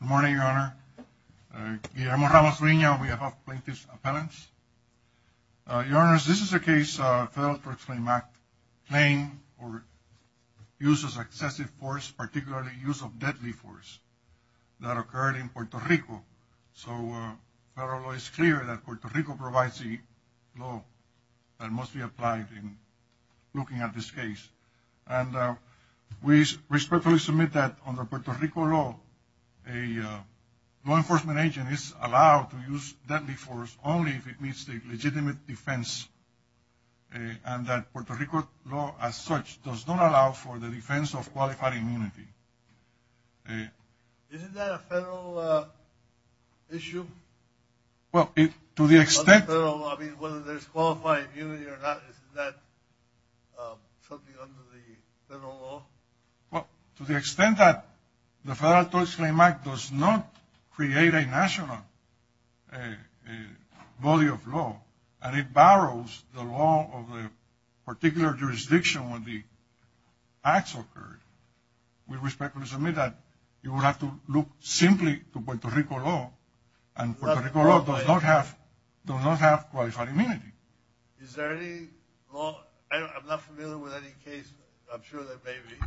Good morning Your Honor, Guillermo Ramos Reina and we have plaintiff's appellants. Your Honor, this is a case of Federal Drug Frame Act claim for use of excessive force, particularly use of deadly force that occurred in Puerto Rico. So federal law is clear that Puerto Rico provides the law that must be applied in looking at this case. And we respectfully submit that under Puerto Rico law a law enforcement agent is allowed to use deadly force only if it meets the legitimate defense. And that Puerto Rico law as such does not allow for the defense of qualified immunity. Isn't that a federal issue? Well to the extent that the Federal Drug Frame Act does not create a national body of law and it borrows the law of a particular jurisdiction when the acts occurred. We respectfully submit that you would have to look simply to Puerto Rico law and Puerto Rico law does not have qualified immunity. Is there any law, I'm not familiar with any case, I'm sure there may be,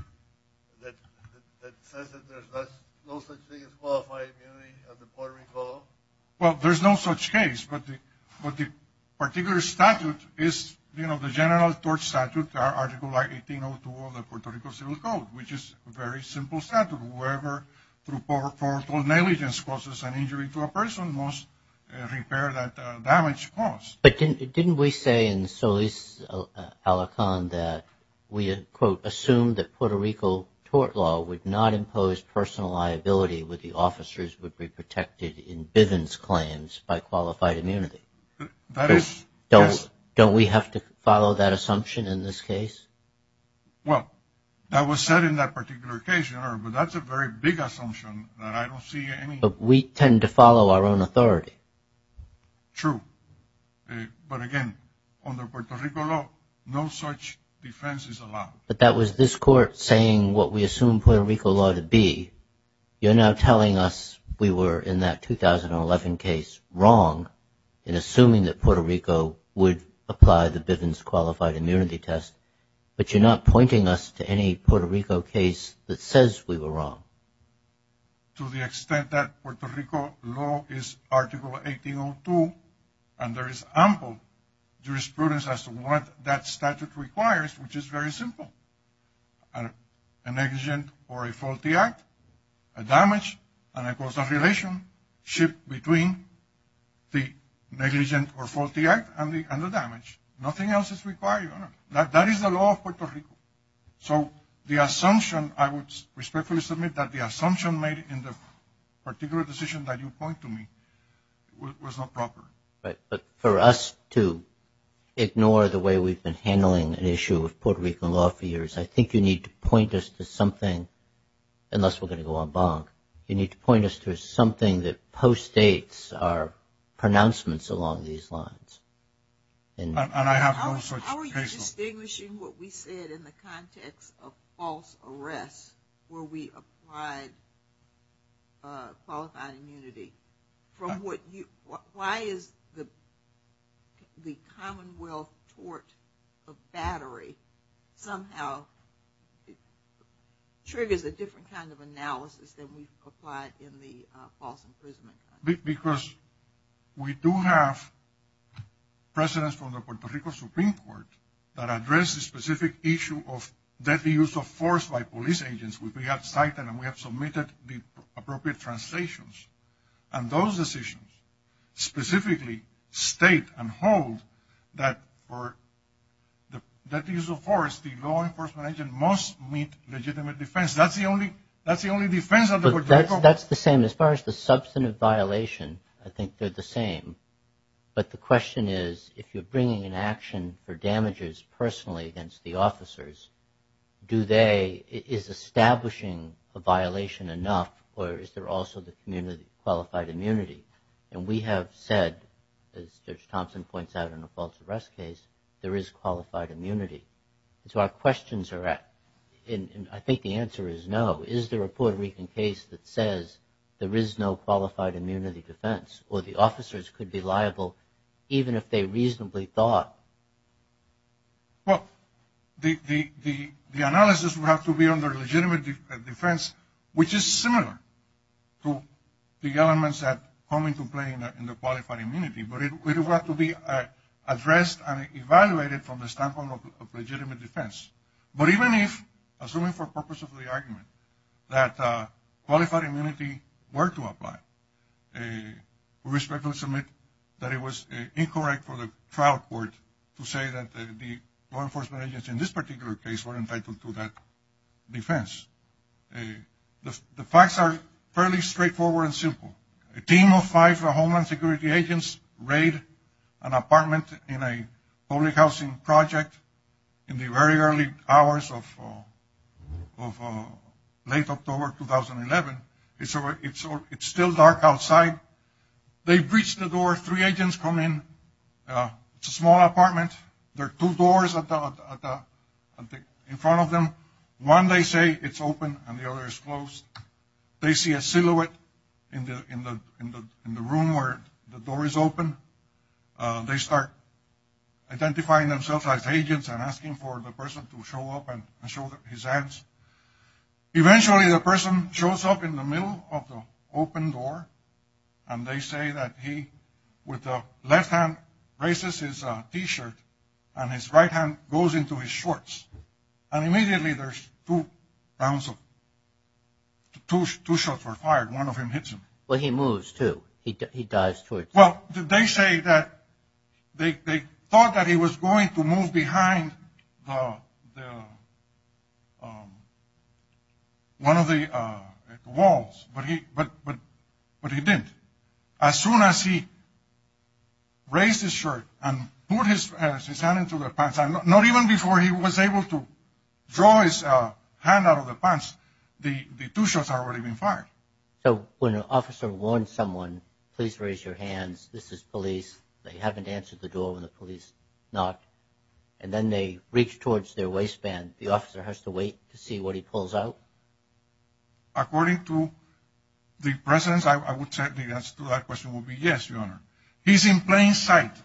that says that there's no such thing as qualified immunity under Puerto Rico law? Well, there's no such case, but the particular statute is, you know, the General Tort Statute, Article I-1802 of the Puerto Rico Civil Code, which is a very simple statute. Whoever through poor tort negligence causes an injury to a person must repair that damage caused. But didn't we say in Solis-Alacan that we, quote, assumed that Puerto Rico tort law would not impose personal liability with the officers would be protected in Bivens claims by qualified immunity? That is, yes. Don't we have to follow that assumption in this case? Well, that was said in that particular case, but that's a very big assumption that I don't see any. But we tend to follow our own authority. True. But again, under Puerto Rico law, no such defense is allowed. But that was this court saying what we assume Puerto Rico law to be. You're now telling us we were in that 2011 case wrong in assuming that Puerto Rico would apply the Bivens qualified immunity test, but you're not pointing us to any Puerto Rico case that says we were wrong. To the extent that Puerto Rico law is Article 1802 and there is ample jurisprudence as to what that statute requires, which is very simple. A negligent or a faulty act, a damage, and of course a relationship between the negligent or faulty act and the damage. Nothing else is required. So the assumption, I would respectfully submit that the assumption made in the particular decision that you point to me was not proper. Right. But for us to ignore the way we've been handling an issue of Puerto Rican law for years, I think you need to point us to something, unless we're going to go en banc, you need to point us to something that postdates our pronouncements along these lines. And I have no such case law. How are you distinguishing what we said in the context of false arrests where we applied qualified immunity from what you, why is the Commonwealth tort of battery somehow triggers a different kind of analysis than we've applied in the false imprisonment? Because we do have precedents from the Puerto Rico Supreme Court that address the specific issue of deadly use of force by police agents. We have cited and we have submitted the appropriate translations. And those decisions specifically state and hold that for the deadly use of force, the law enforcement agent must meet legitimate defense. That's the only defense of the Puerto Rico. That's the same. As far as the substantive violation, I think they're the same. But the question is, if you're bringing an action for damages personally against the officers, do they, is establishing a violation enough or is there also the community qualified immunity? And we have said, as Judge Thompson points out in the false arrest case, there is qualified immunity. So our questions are, and I think the answer is no. Is there a Puerto Rican case that says there is no qualified immunity defense or the officers could be liable even if they reasonably thought? Well, the analysis would have to be under legitimate defense, which is similar to the elements that come into play in the qualified immunity. But it would have to be addressed and evaluated from the standpoint of legitimate defense. But even if, assuming for purpose of the argument, that qualified immunity were to apply, we respectfully submit that it was incorrect for the trial court to say that the law enforcement agents in this particular case were entitled to that defense. The facts are fairly straightforward and simple. A team of five Homeland Security agents raid an apartment in a public housing project in the very early hours of late October 2011. It's still dark outside. They breach the door. Three agents come in. It's a small apartment. There are two doors in front of them. One they say it's open and the other is closed. They see a silhouette in the room where the door is open. They start identifying themselves as agents and asking for the person to show up and show his hands. Eventually the person shows up in the middle of the open door and they say that he with the left hand raises his T-shirt and his right hand goes into his shorts. And immediately there's two rounds of two shots were fired. One of them hits him. Well, he moves, too. He does. Well, they say that they thought that he was going to move behind one of the walls, but he didn't. As soon as he raised his shirt and put his hand into the pants, not even before he was able to draw his hand out of the pants, the two shots had already been fired. So when an officer warns someone, please raise your hands, this is police. They haven't answered the door when the police knock. And then they reach towards their waistband. The officer has to wait to see what he pulls out? According to the presence, I would say the answer to that question would be yes, Your Honor. He's in plain sight.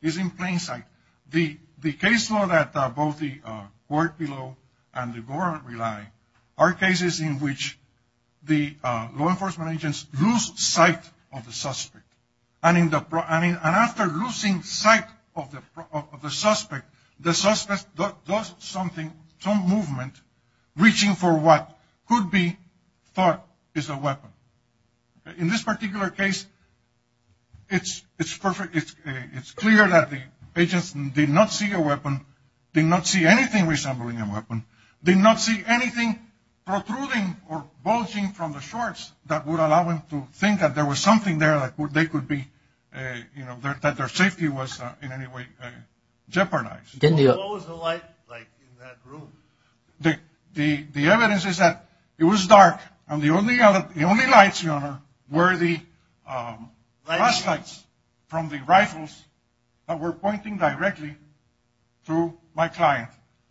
He's in plain sight. The case law that both the court below and the government rely are cases in which the law enforcement agents lose sight of the suspect. And after losing sight of the suspect, the suspect does something, some movement, reaching for what could be thought is a weapon. In this particular case, it's clear that the agents did not see a weapon, did not see anything resembling a weapon, did not see anything protruding or bulging from the shorts that would allow them to think that there was something there that they could be, you know, that their safety was in any way jeopardized. What was the light like in that room? The evidence is that it was dark and the only lights, Your Honor, were the flashlights from the rifles that were pointing directly to my client.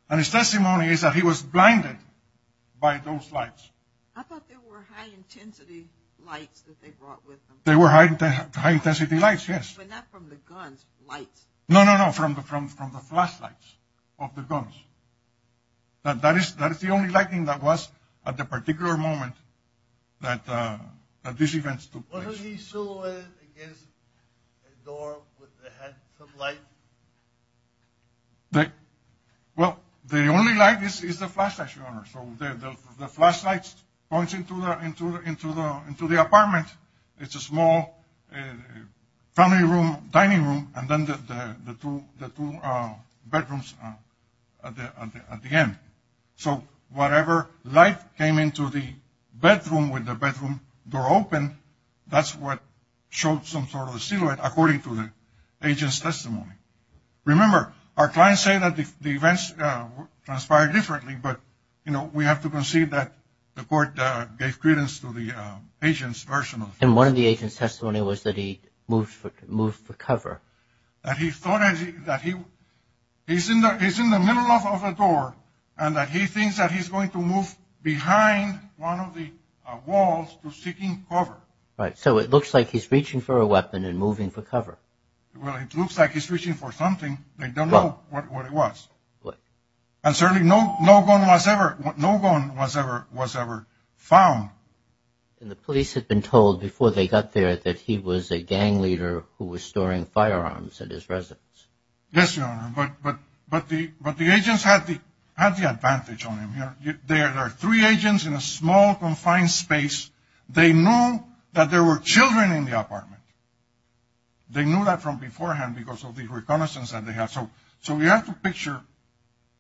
And his testimony is that he was blinded by those lights. I thought there were high-intensity lights that they brought with them. They were high-intensity lights, yes. But not from the guns' lights. No, no, no, from the flashlights of the guns. That is the only lighting that was at the particular moment that these events took place. Wasn't he silhouetted against a door with a head of light? Well, the only light is the flashlights, Your Honor. So the flashlights pointed into the apartment. It's a small family room, dining room, and then the two bedrooms at the end. So whatever light came into the bedroom with the bedroom door open, that's what showed some sort of a silhouette according to the agent's testimony. Remember, our clients say that the events transpired differently, but, you know, we have to concede that the court gave credence to the agent's version of it. And one of the agent's testimony was that he moved for cover. That he's in the middle of a door and that he thinks that he's going to move behind one of the walls to seek cover. Right, so it looks like he's reaching for a weapon and moving for cover. Well, it looks like he's reaching for something. They don't know what it was. And certainly no gun was ever found. And the police had been told before they got there that he was a gang leader who was storing firearms at his residence. Yes, Your Honor, but the agents had the advantage on him. There are three agents in a small, confined space. They knew that there were children in the apartment. They knew that from beforehand because of the reconnaissance that they had. So we have to picture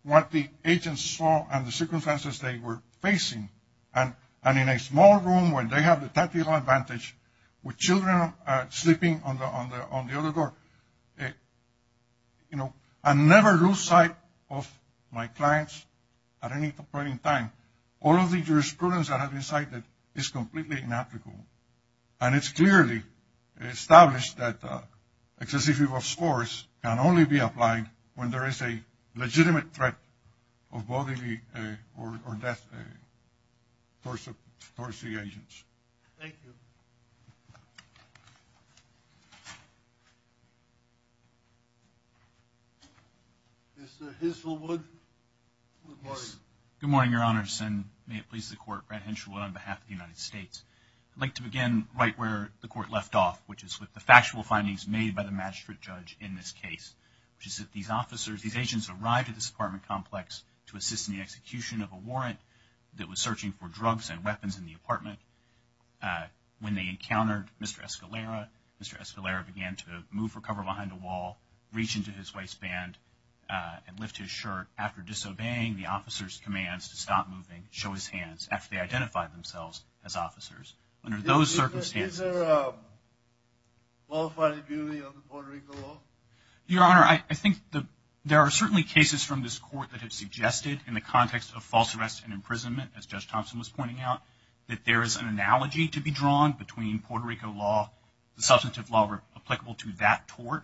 what the agents saw and the circumstances they were facing. And in a small room where they have the tactical advantage with children sleeping on the other door, you know, I never lose sight of my clients at any point in time. All of the jurisprudence that has been cited is completely inapplicable. And it's clearly established that excessive use of force can only be applied when there is a legitimate threat of bodily or death towards the agents. Thank you. Mr. Henshaw Wood, good morning. Good morning, Your Honors, and may it please the Court, Brad Henshaw Wood on behalf of the United States. I'd like to begin right where the Court left off, which is with the factual findings made by the magistrate judge in this case, which is that these agents arrived at this apartment complex to assist in the execution of a warrant that was searching for drugs and weapons in the apartment. When they encountered Mr. Escalera, Mr. Escalera began to move for cover behind a wall, reach into his waistband, and lift his shirt. After disobeying the officer's commands to stop moving, show his hands after they identified themselves as officers. Under those circumstances. Is there a qualified immunity under Puerto Rico law? Your Honor, I think there are certainly cases from this Court that have suggested in the context of false arrest and imprisonment, as Judge Thompson was pointing out, that there is an analogy to be drawn between Puerto Rico law, the substantive law applicable to that tort,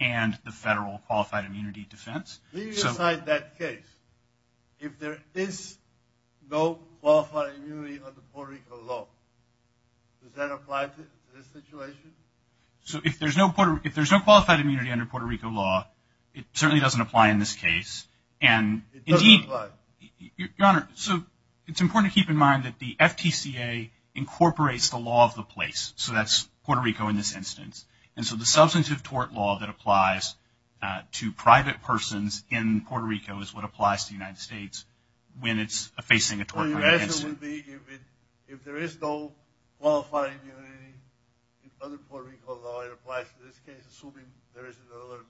and the federal qualified immunity defense. When you decide that case, if there is no qualified immunity under Puerto Rico law, does that apply to this situation? So if there's no qualified immunity under Puerto Rico law, it certainly doesn't apply in this case. It doesn't apply. Your Honor, so it's important to keep in mind that the FTCA incorporates the law of the place, so that's Puerto Rico in this instance. And so the substantive tort law that applies to private persons in Puerto Rico is what applies to the United States when it's facing a tort court instance. So your answer would be if there is no qualified immunity under Puerto Rico law, it applies to this case, assuming there isn't another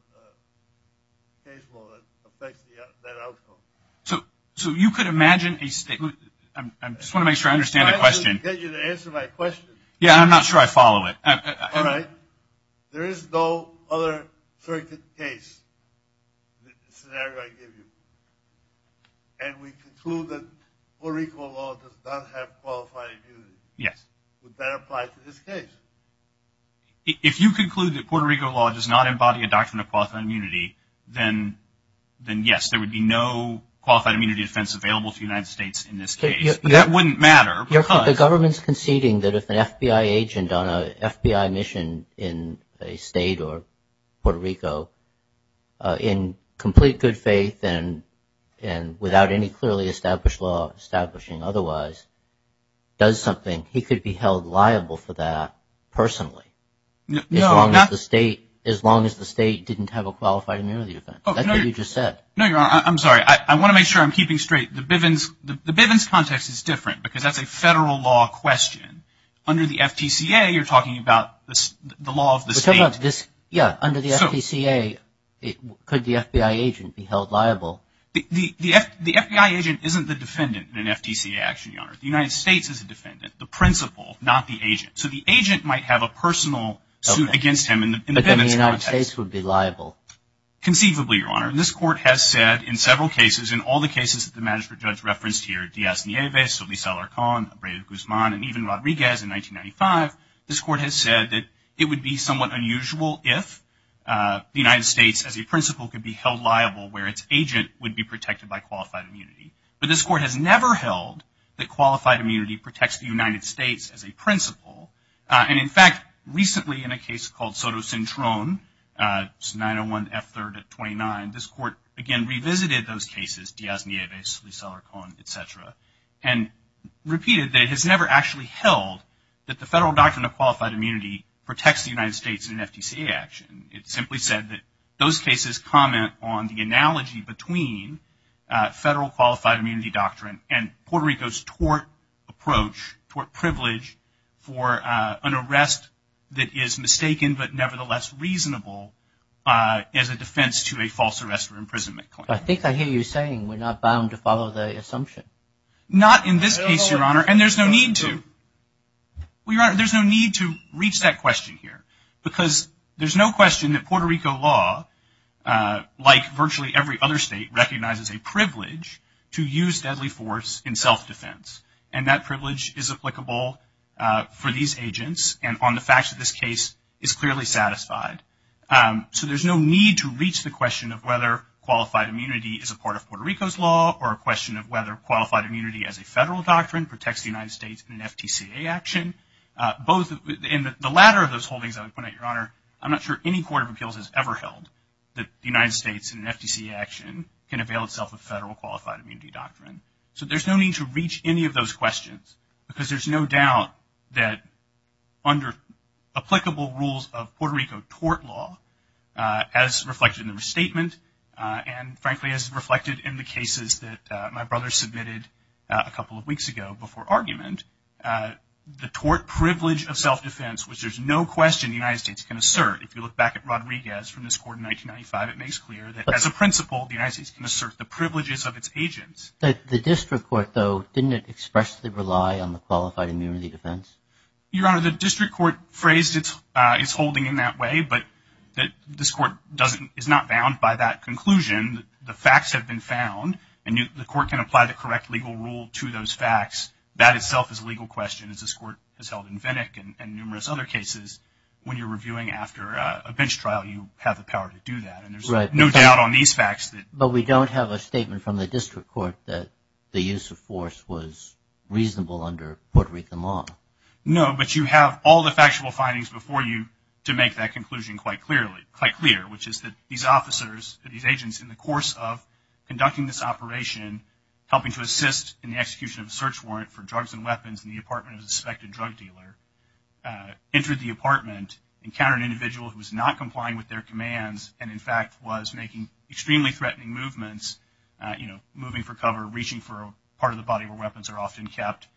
case law that affects that outcome. So you could imagine a statement. I just want to make sure I understand the question. I'll get you to answer my question. Yeah, I'm not sure I follow it. All right. There is no other circuit case scenario I give you. And we conclude that Puerto Rico law does not have qualified immunity. Yes. Would that apply to this case? If you conclude that Puerto Rico law does not embody a doctrine of qualified immunity, then yes, there would be no qualified immunity defense available to the United States in this case. But that wouldn't matter. The government's conceding that if an FBI agent on a FBI mission in a state or Puerto Rico in complete good faith and without any clearly established law establishing otherwise does something, he could be held liable for that personally as long as the state didn't have a qualified immunity defense. That's what you just said. No, Your Honor, I'm sorry. I want to make sure I'm keeping straight. The Bivens context is different because that's a federal law question. Under the FTCA, you're talking about the law of the state. Yeah, under the FTCA, could the FBI agent be held liable? The FBI agent isn't the defendant in an FTCA action, Your Honor. The United States is the defendant, the principal, not the agent. So the agent might have a personal suit against him in the Bivens context. But then the United States would be liable. Conceivably, Your Honor. This court has said in several cases, in all the cases that the magistrate judge referenced here, Diaz-Nieves, Solis-Alarcon, Abreu-Guzman, and even Rodriguez in 1995, this court has said that it would be somewhat unusual if the United States, as a principal, could be held liable where its agent would be protected by qualified immunity. But this court has never held that qualified immunity protects the United States as a principal. And, in fact, recently in a case called Sotocintron, 901 F3rd at 29, this court, again, revisited those cases, Diaz-Nieves, Solis-Alarcon, et cetera, and repeated that it has never actually held that the federal doctrine of qualified immunity protects the United States in an FTCA action. It simply said that those cases comment on the analogy between federal qualified immunity doctrine and Puerto Rico's tort approach, tort privilege, for an arrest that is mistaken but nevertheless reasonable as a defense to a false arrest or imprisonment claim. I think I hear you saying we're not bound to follow the assumption. Not in this case, Your Honor, and there's no need to. Well, Your Honor, there's no need to reach that question here because there's no question that Puerto Rico law, like virtually every other state, recognizes a privilege to use deadly force in self-defense. And that privilege is applicable for these agents and on the facts of this case is clearly satisfied. So there's no need to reach the question of whether qualified immunity is a part of Puerto Rico's law or a question of whether qualified immunity as a federal doctrine protects the United States in an FTCA action. In the latter of those holdings, I would point out, Your Honor, I'm not sure any court of appeals has ever held that the United States in an FTCA action can avail itself of federal qualified immunity doctrine. So there's no need to reach any of those questions because there's no doubt that under applicable rules of Puerto Rico tort law, as reflected in the restatement and, frankly, as reflected in the cases that my brother submitted a couple of weeks ago before argument, the tort privilege of self-defense, which there's no question the United States can assert, if you look back at Rodriguez from this court in 1995, it makes clear that, as a principle, the United States can assert the privileges of its agents. The district court, though, didn't it expressly rely on the qualified immunity defense? Your Honor, the district court phrased its holding in that way, but this court is not bound by that conclusion. The facts have been found and the court can apply the correct legal rule to those facts. That itself is a legal question, as this court has held in Venick and numerous other cases. When you're reviewing after a bench trial, you have the power to do that. And there's no doubt on these facts. But we don't have a statement from the district court that the use of force was reasonable under Puerto Rico law. No, but you have all the factual findings before you to make that conclusion quite clear, which is that these officers, these agents, in the course of conducting this operation, helping to assist in the execution of a search warrant for drugs and weapons in the apartment of a suspected drug dealer, entered the apartment, encountered an individual who was not complying with their commands and, in fact, was making extremely threatening movements, you know, moving for cover, reaching for a part of the body where weapons are often kept,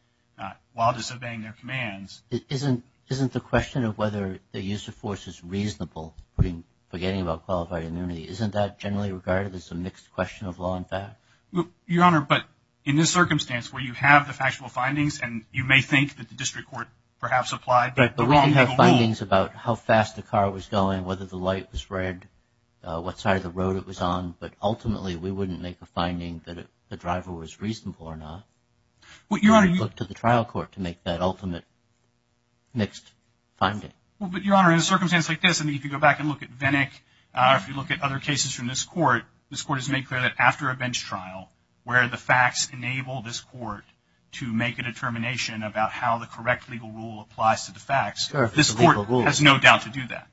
while disobeying their commands. Isn't the question of whether the use of force is reasonable, forgetting about qualified immunity, isn't that generally regarded as a mixed question of law and fact? Your Honor, but in this circumstance where you have the factual findings and you may think that the district court perhaps applied the wrong legal rule. But we can have findings about how fast the car was going, whether the light was red, what side of the road it was on. But ultimately, we wouldn't make a finding that the driver was reasonable or not. We would look to the trial court to make that ultimate mixed finding. But, Your Honor, in a circumstance like this, I mean, if you go back and look at Venick or if you look at other cases from this court, this court has made clear that after a bench trial, where the facts enable this court to make a determination about how the correct legal rule applies to the facts, this court has no doubt to do that.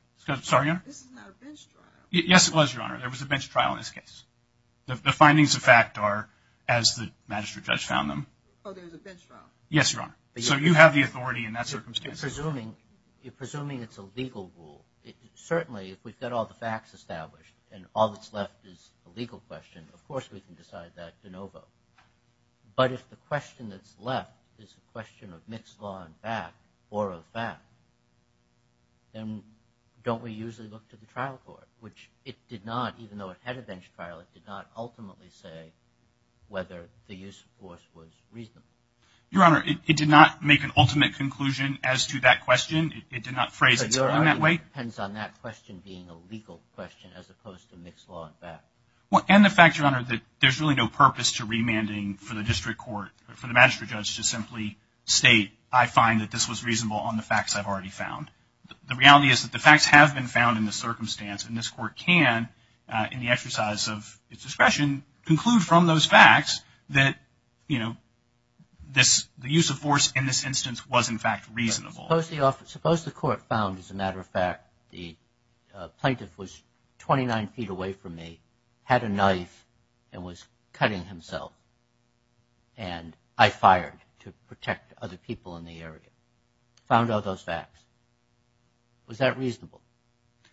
Sorry, Your Honor? This is not a bench trial. Yes, it was, Your Honor. There was a bench trial in this case. The findings of fact are as the magistrate judge found them. Oh, there was a bench trial. Yes, Your Honor. So you have the authority in that circumstance. You're presuming it's a legal rule. Certainly, if we've got all the facts established and all that's left is a legal question, of course we can decide that de novo. But if the question that's left is a question of mixed law and fact or of fact, then don't we usually look to the trial court, which it did not, even though it had a bench trial, it did not ultimately say whether the use of force was reasonable. Your Honor, it did not make an ultimate conclusion as to that question. It did not phrase it in that way. It depends on that question being a legal question as opposed to mixed law and fact. And the fact, Your Honor, that there's really no purpose to remanding for the district court, for the magistrate judge to simply state, I find that this was reasonable on the facts I've already found. The reality is that the facts have been found in the circumstance, and this court can, in the exercise of its discretion, conclude from those facts that, you know, the use of force in this instance was, in fact, reasonable. Suppose the court found, as a matter of fact, the plaintiff was 29 feet away from me, had a knife, and was cutting himself, and I fired to protect other people in the area. Found all those facts. Was that reasonable?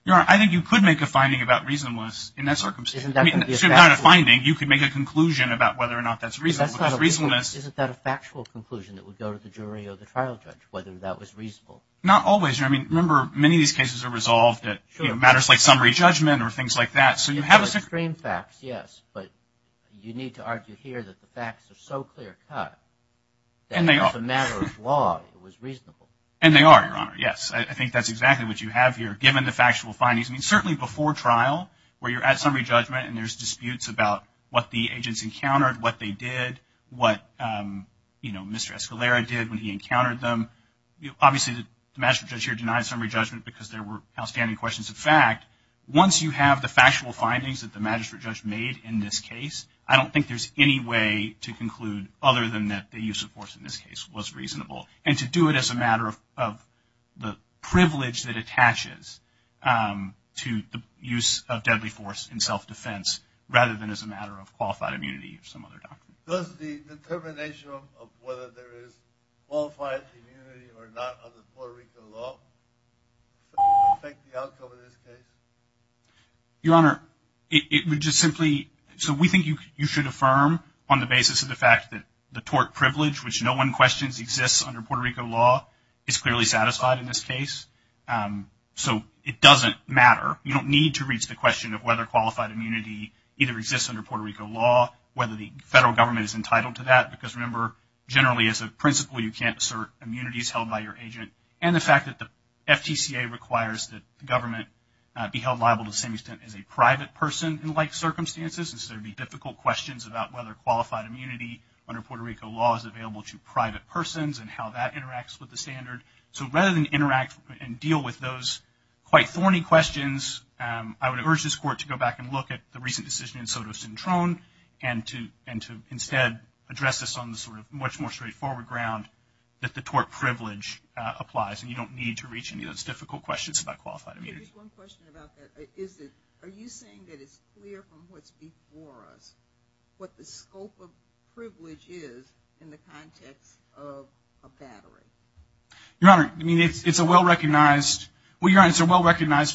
Your Honor, I think you could make a finding about reasonableness in that circumstance. I mean, it's not a finding. You could make a conclusion about whether or not that's reasonable. Because reasonableness — Isn't that a factual conclusion that would go to the jury or the trial judge, whether that was reasonable? Not always, Your Honor. I mean, remember, many of these cases are resolved at matters like summary judgment or things like that. So you have a — Extreme facts, yes. But you need to argue here that the facts are so clear-cut that, as a matter of law, it was reasonable. And they are, Your Honor, yes. I think that's exactly what you have here, given the factual findings. I mean, certainly before trial, where you're at summary judgment and there's disputes about what the agents encountered, what they did, what, you know, Mr. Escalera did when he encountered them. Obviously, the magistrate judge here denied summary judgment because there were outstanding questions of fact. Once you have the factual findings that the magistrate judge made in this case, I don't think there's any way to conclude other than that the use of force in this case was reasonable. And to do it as a matter of the privilege that attaches to the use of deadly force in self-defense, rather than as a matter of qualified immunity or some other doctrine. Does the determination of whether there is qualified immunity or not under Puerto Rican law affect the outcome of this case? Your Honor, it would just simply — so we think you should affirm on the basis of the fact that the tort privilege, which no one questions exists under Puerto Rico law, is clearly satisfied in this case. So it doesn't matter. You don't need to reach the question of whether qualified immunity either exists under Puerto Rico law, whether the federal government is entitled to that, because remember, generally as a principle, you can't assert immunity is held by your agent. And the fact that the FTCA requires that the government be held liable to the same extent as a private person in like circumstances, since there would be difficult questions about whether qualified immunity under Puerto Rico law is available to private persons and how that interacts with the standard. So rather than interact and deal with those quite thorny questions, I would urge this Court to go back and look at the recent decision in Soto Cintron and to instead address this on the sort of much more straightforward ground that the tort privilege applies. And you don't need to reach any of those difficult questions about qualified immunity. Just one question about that. Are you saying that it's clear from what's before us what the scope of privilege is in the context of a battery? Your Honor, I mean, it's a well-recognized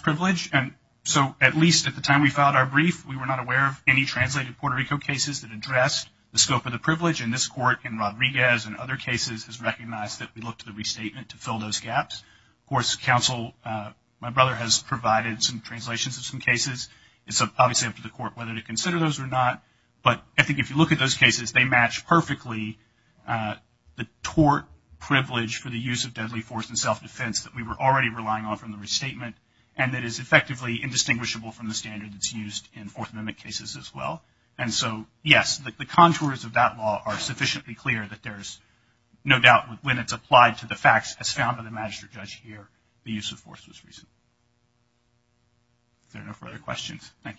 privilege. And so at least at the time we filed our brief, we were not aware of any translated Puerto Rico cases that addressed the scope of the privilege. And this Court in Rodriguez and other cases has recognized that we look to the restatement to fill those gaps. Of course, counsel, my brother has provided some translations of some cases. It's obviously up to the Court whether to consider those or not. But I think if you look at those cases, they match perfectly the tort privilege for the use of deadly force and self-defense that we were already relying on from the restatement, and that is effectively indistinguishable from the standard that's used in Fourth Amendment cases as well. And so, yes, the contours of that law are sufficiently clear that there's no doubt when it's applied to the facts as found by the magistrate judge here, the use of force was reason. Is there no further questions? Thank you.